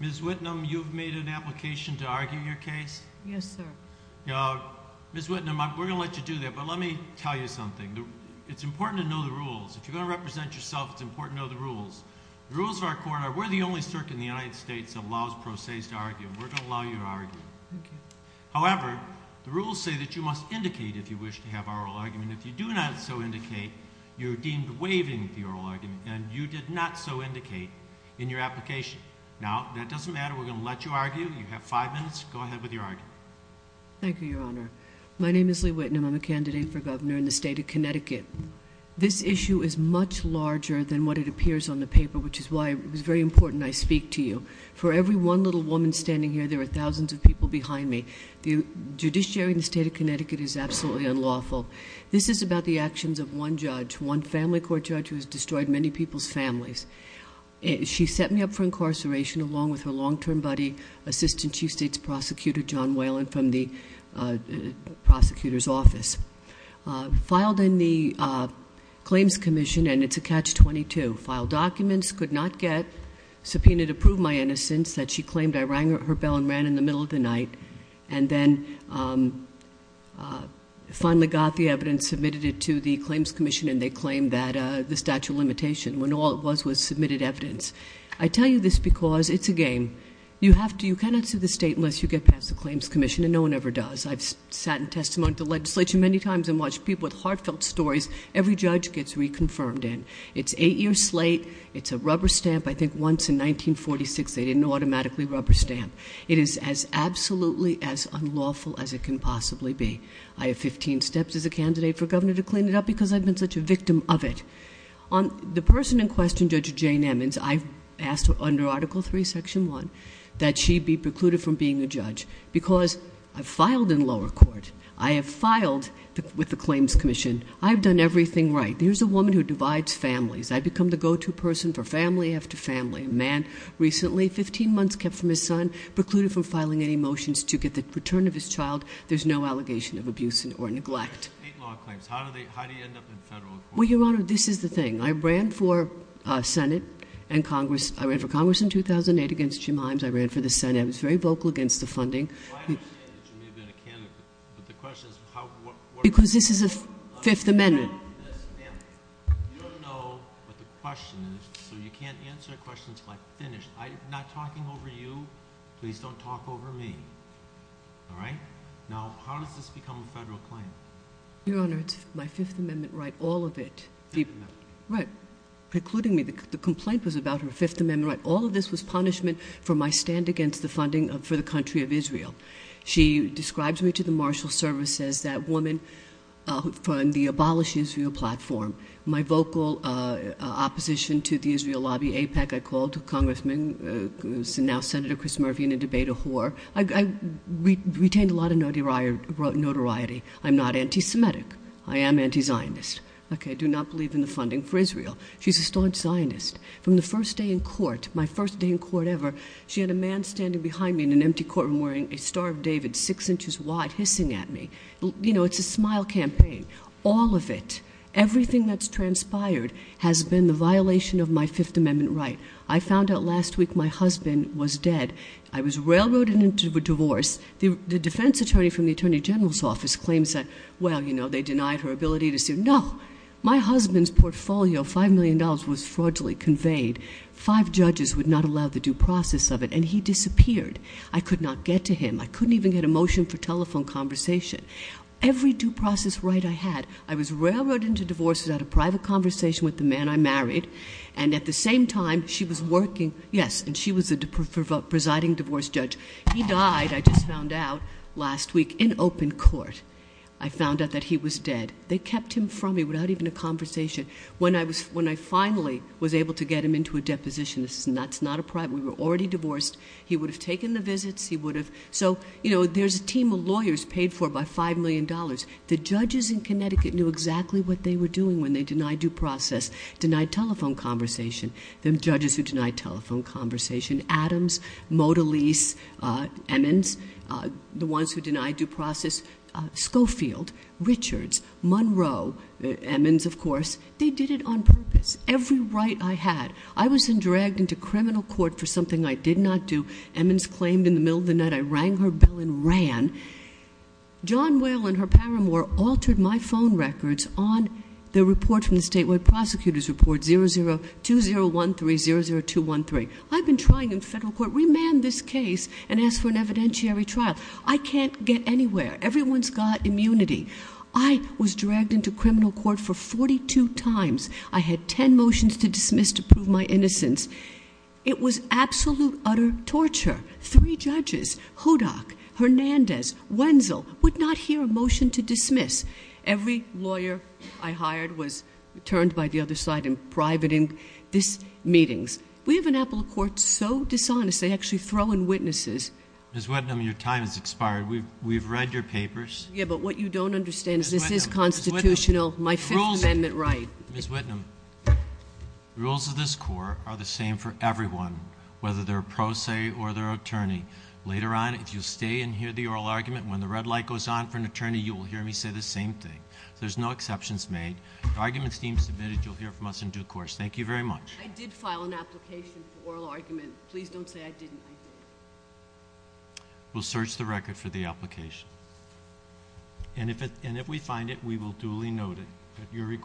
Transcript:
Ms. Whitnum, you've made an application to argue your case? Yes, sir. Ms. Whitnum, we're going to let you do that, but let me tell you something. It's important to know the rules. If you're going to represent yourself, it's important to know the rules. The rules of our court are we're the only circuit in the United States that allows pro se's to argue. We're going to allow you to argue. Thank you. However, the rules say that you must indicate if you wish to have oral argument. And if you do not so indicate, you're deemed waiving the oral argument. And you did not so indicate in your application. Now, that doesn't matter. We're going to let you argue. You have five minutes. Go ahead with your argument. Thank you, Your Honor. My name is Lee Whitnum. I'm a candidate for governor in the state of Connecticut. This issue is much larger than what it appears on the paper, which is why it was very important I speak to you. For every one little woman standing here, there are thousands of people behind me. Judiciary in the state of Connecticut is absolutely unlawful. This is about the actions of one judge, one family court judge who has destroyed many people's families. She set me up for incarceration along with her long-term buddy, Assistant Chief of State's Prosecutor John Whalen from the prosecutor's office. Filed in the Claims Commission, and it's a catch-22. Filed documents, could not get, subpoenaed to prove my innocence, that she claimed I rang her bell and ran in the middle of the night. And then finally got the evidence, submitted it to the Claims Commission, and they claimed that the statute of limitation when all it was was submitted evidence. I tell you this because it's a game. You cannot sue the state unless you get past the Claims Commission, and no one ever does. I've sat in testimony to the legislature many times and watched people with heartfelt stories. Every judge gets reconfirmed in. It's eight years late. It's a rubber stamp. I think once in 1946 they didn't automatically rubber stamp. It is as absolutely as unlawful as it can possibly be. I have 15 steps as a candidate for governor to clean it up because I've been such a victim of it. The person in question, Judge Jane Emmons, I've asked her under Article III, Section 1, that she be precluded from being a judge because I've filed in lower court. I have filed with the Claims Commission. I've done everything right. Here's a woman who divides families. I've become the go-to person for family after family. A man recently, 15 months kept from his son, precluded from filing any motions to get the return of his child. There's no allegation of abuse or neglect. There are state law claims. How do you end up in federal court? Well, Your Honor, this is the thing. I ran for Senate and Congress. I ran for Congress in 2008 against Jim Himes. I ran for the Senate. I was very vocal against the funding. Well, I understand that you may have been a candidate. But the question is how, what— Because this is a Fifth Amendment. Yes, ma'am. You don't know what the question is, so you can't answer questions by finish. I'm not talking over you. Please don't talk over me. All right? Now, how does this become a federal claim? Your Honor, it's my Fifth Amendment right, all of it. Fifth Amendment. Right. Precluding me. The complaint was about her Fifth Amendment right. All of this was punishment for my stand against the funding for the country of Israel. She describes me to the Marshal Service as that woman from the Abolish Israel platform. My vocal opposition to the Israel lobby, APEC, I called a congressman, now Senator Chris Murphy, in a debate, a whore. I retained a lot of notoriety. I'm not anti-Semitic. I am anti-Zionist. I do not believe in the funding for Israel. She's a staunch Zionist. From the first day in court, my first day in court ever, she had a man standing behind me in an empty courtroom wearing a Star of David, six inches wide, hissing at me. You know, it's a smile campaign. All of it, everything that's transpired, has been the violation of my Fifth Amendment right. I found out last week my husband was dead. I was railroaded into a divorce. The defense attorney from the Attorney General's office claims that, well, you know, they denied her ability to sue. No. My husband's portfolio, $5 million, was fraudulently conveyed. Five judges would not allow the due process of it, and he disappeared. I could not get to him. I couldn't even get a motion for telephone conversation. Every due process right I had, I was railroaded into divorce without a private conversation with the man I married. And at the same time, she was working, yes, and she was the presiding divorce judge. He died, I just found out last week, in open court. I found out that he was dead. They kept him from me without even a conversation. When I finally was able to get him into a deposition, that's not a private, we were already divorced. He would have taken the visits. He would have. So, you know, there's a team of lawyers paid for by $5 million. The judges in Connecticut knew exactly what they were doing when they denied due process, denied telephone conversation. The judges who denied telephone conversation, Adams, Motilis, Emmons, the ones who denied due process, Schofield, Richards, Monroe, Emmons, of course, they did it on purpose. Every right I had. I was then dragged into criminal court for something I did not do. Emmons claimed in the middle of the night I rang her bell and ran. John Whalen, her paramour, altered my phone records on the report from the statewide prosecutor's report 002013, 00213. I've been trying in federal court, remand this case and ask for an evidentiary trial. I can't get anywhere. Everyone's got immunity. I was dragged into criminal court for 42 times. I had 10 motions to dismiss to prove my innocence. It was absolute, utter torture. Three judges, Hodak, Hernandez, Wenzel, would not hear a motion to dismiss. Every lawyer I hired was turned by the other side in private in these meetings. We have an apple of court so dishonest, they actually throw in witnesses. Ms. Whitnum, your time has expired. We've read your papers. Yeah, but what you don't understand is this is constitutional, my Fifth Amendment right. Ms. Whitnum, the rules of this court are the same for everyone, whether they're a pro se or they're an attorney. Later on, if you'll stay and hear the oral argument, when the red light goes on for an attorney, you will hear me say the same thing. There's no exceptions made. If arguments seem submitted, you'll hear from us in due course. Thank you very much. I did file an application for oral argument. Please don't say I didn't. I did. We'll search the record for the application. And if we find it, we will duly note it.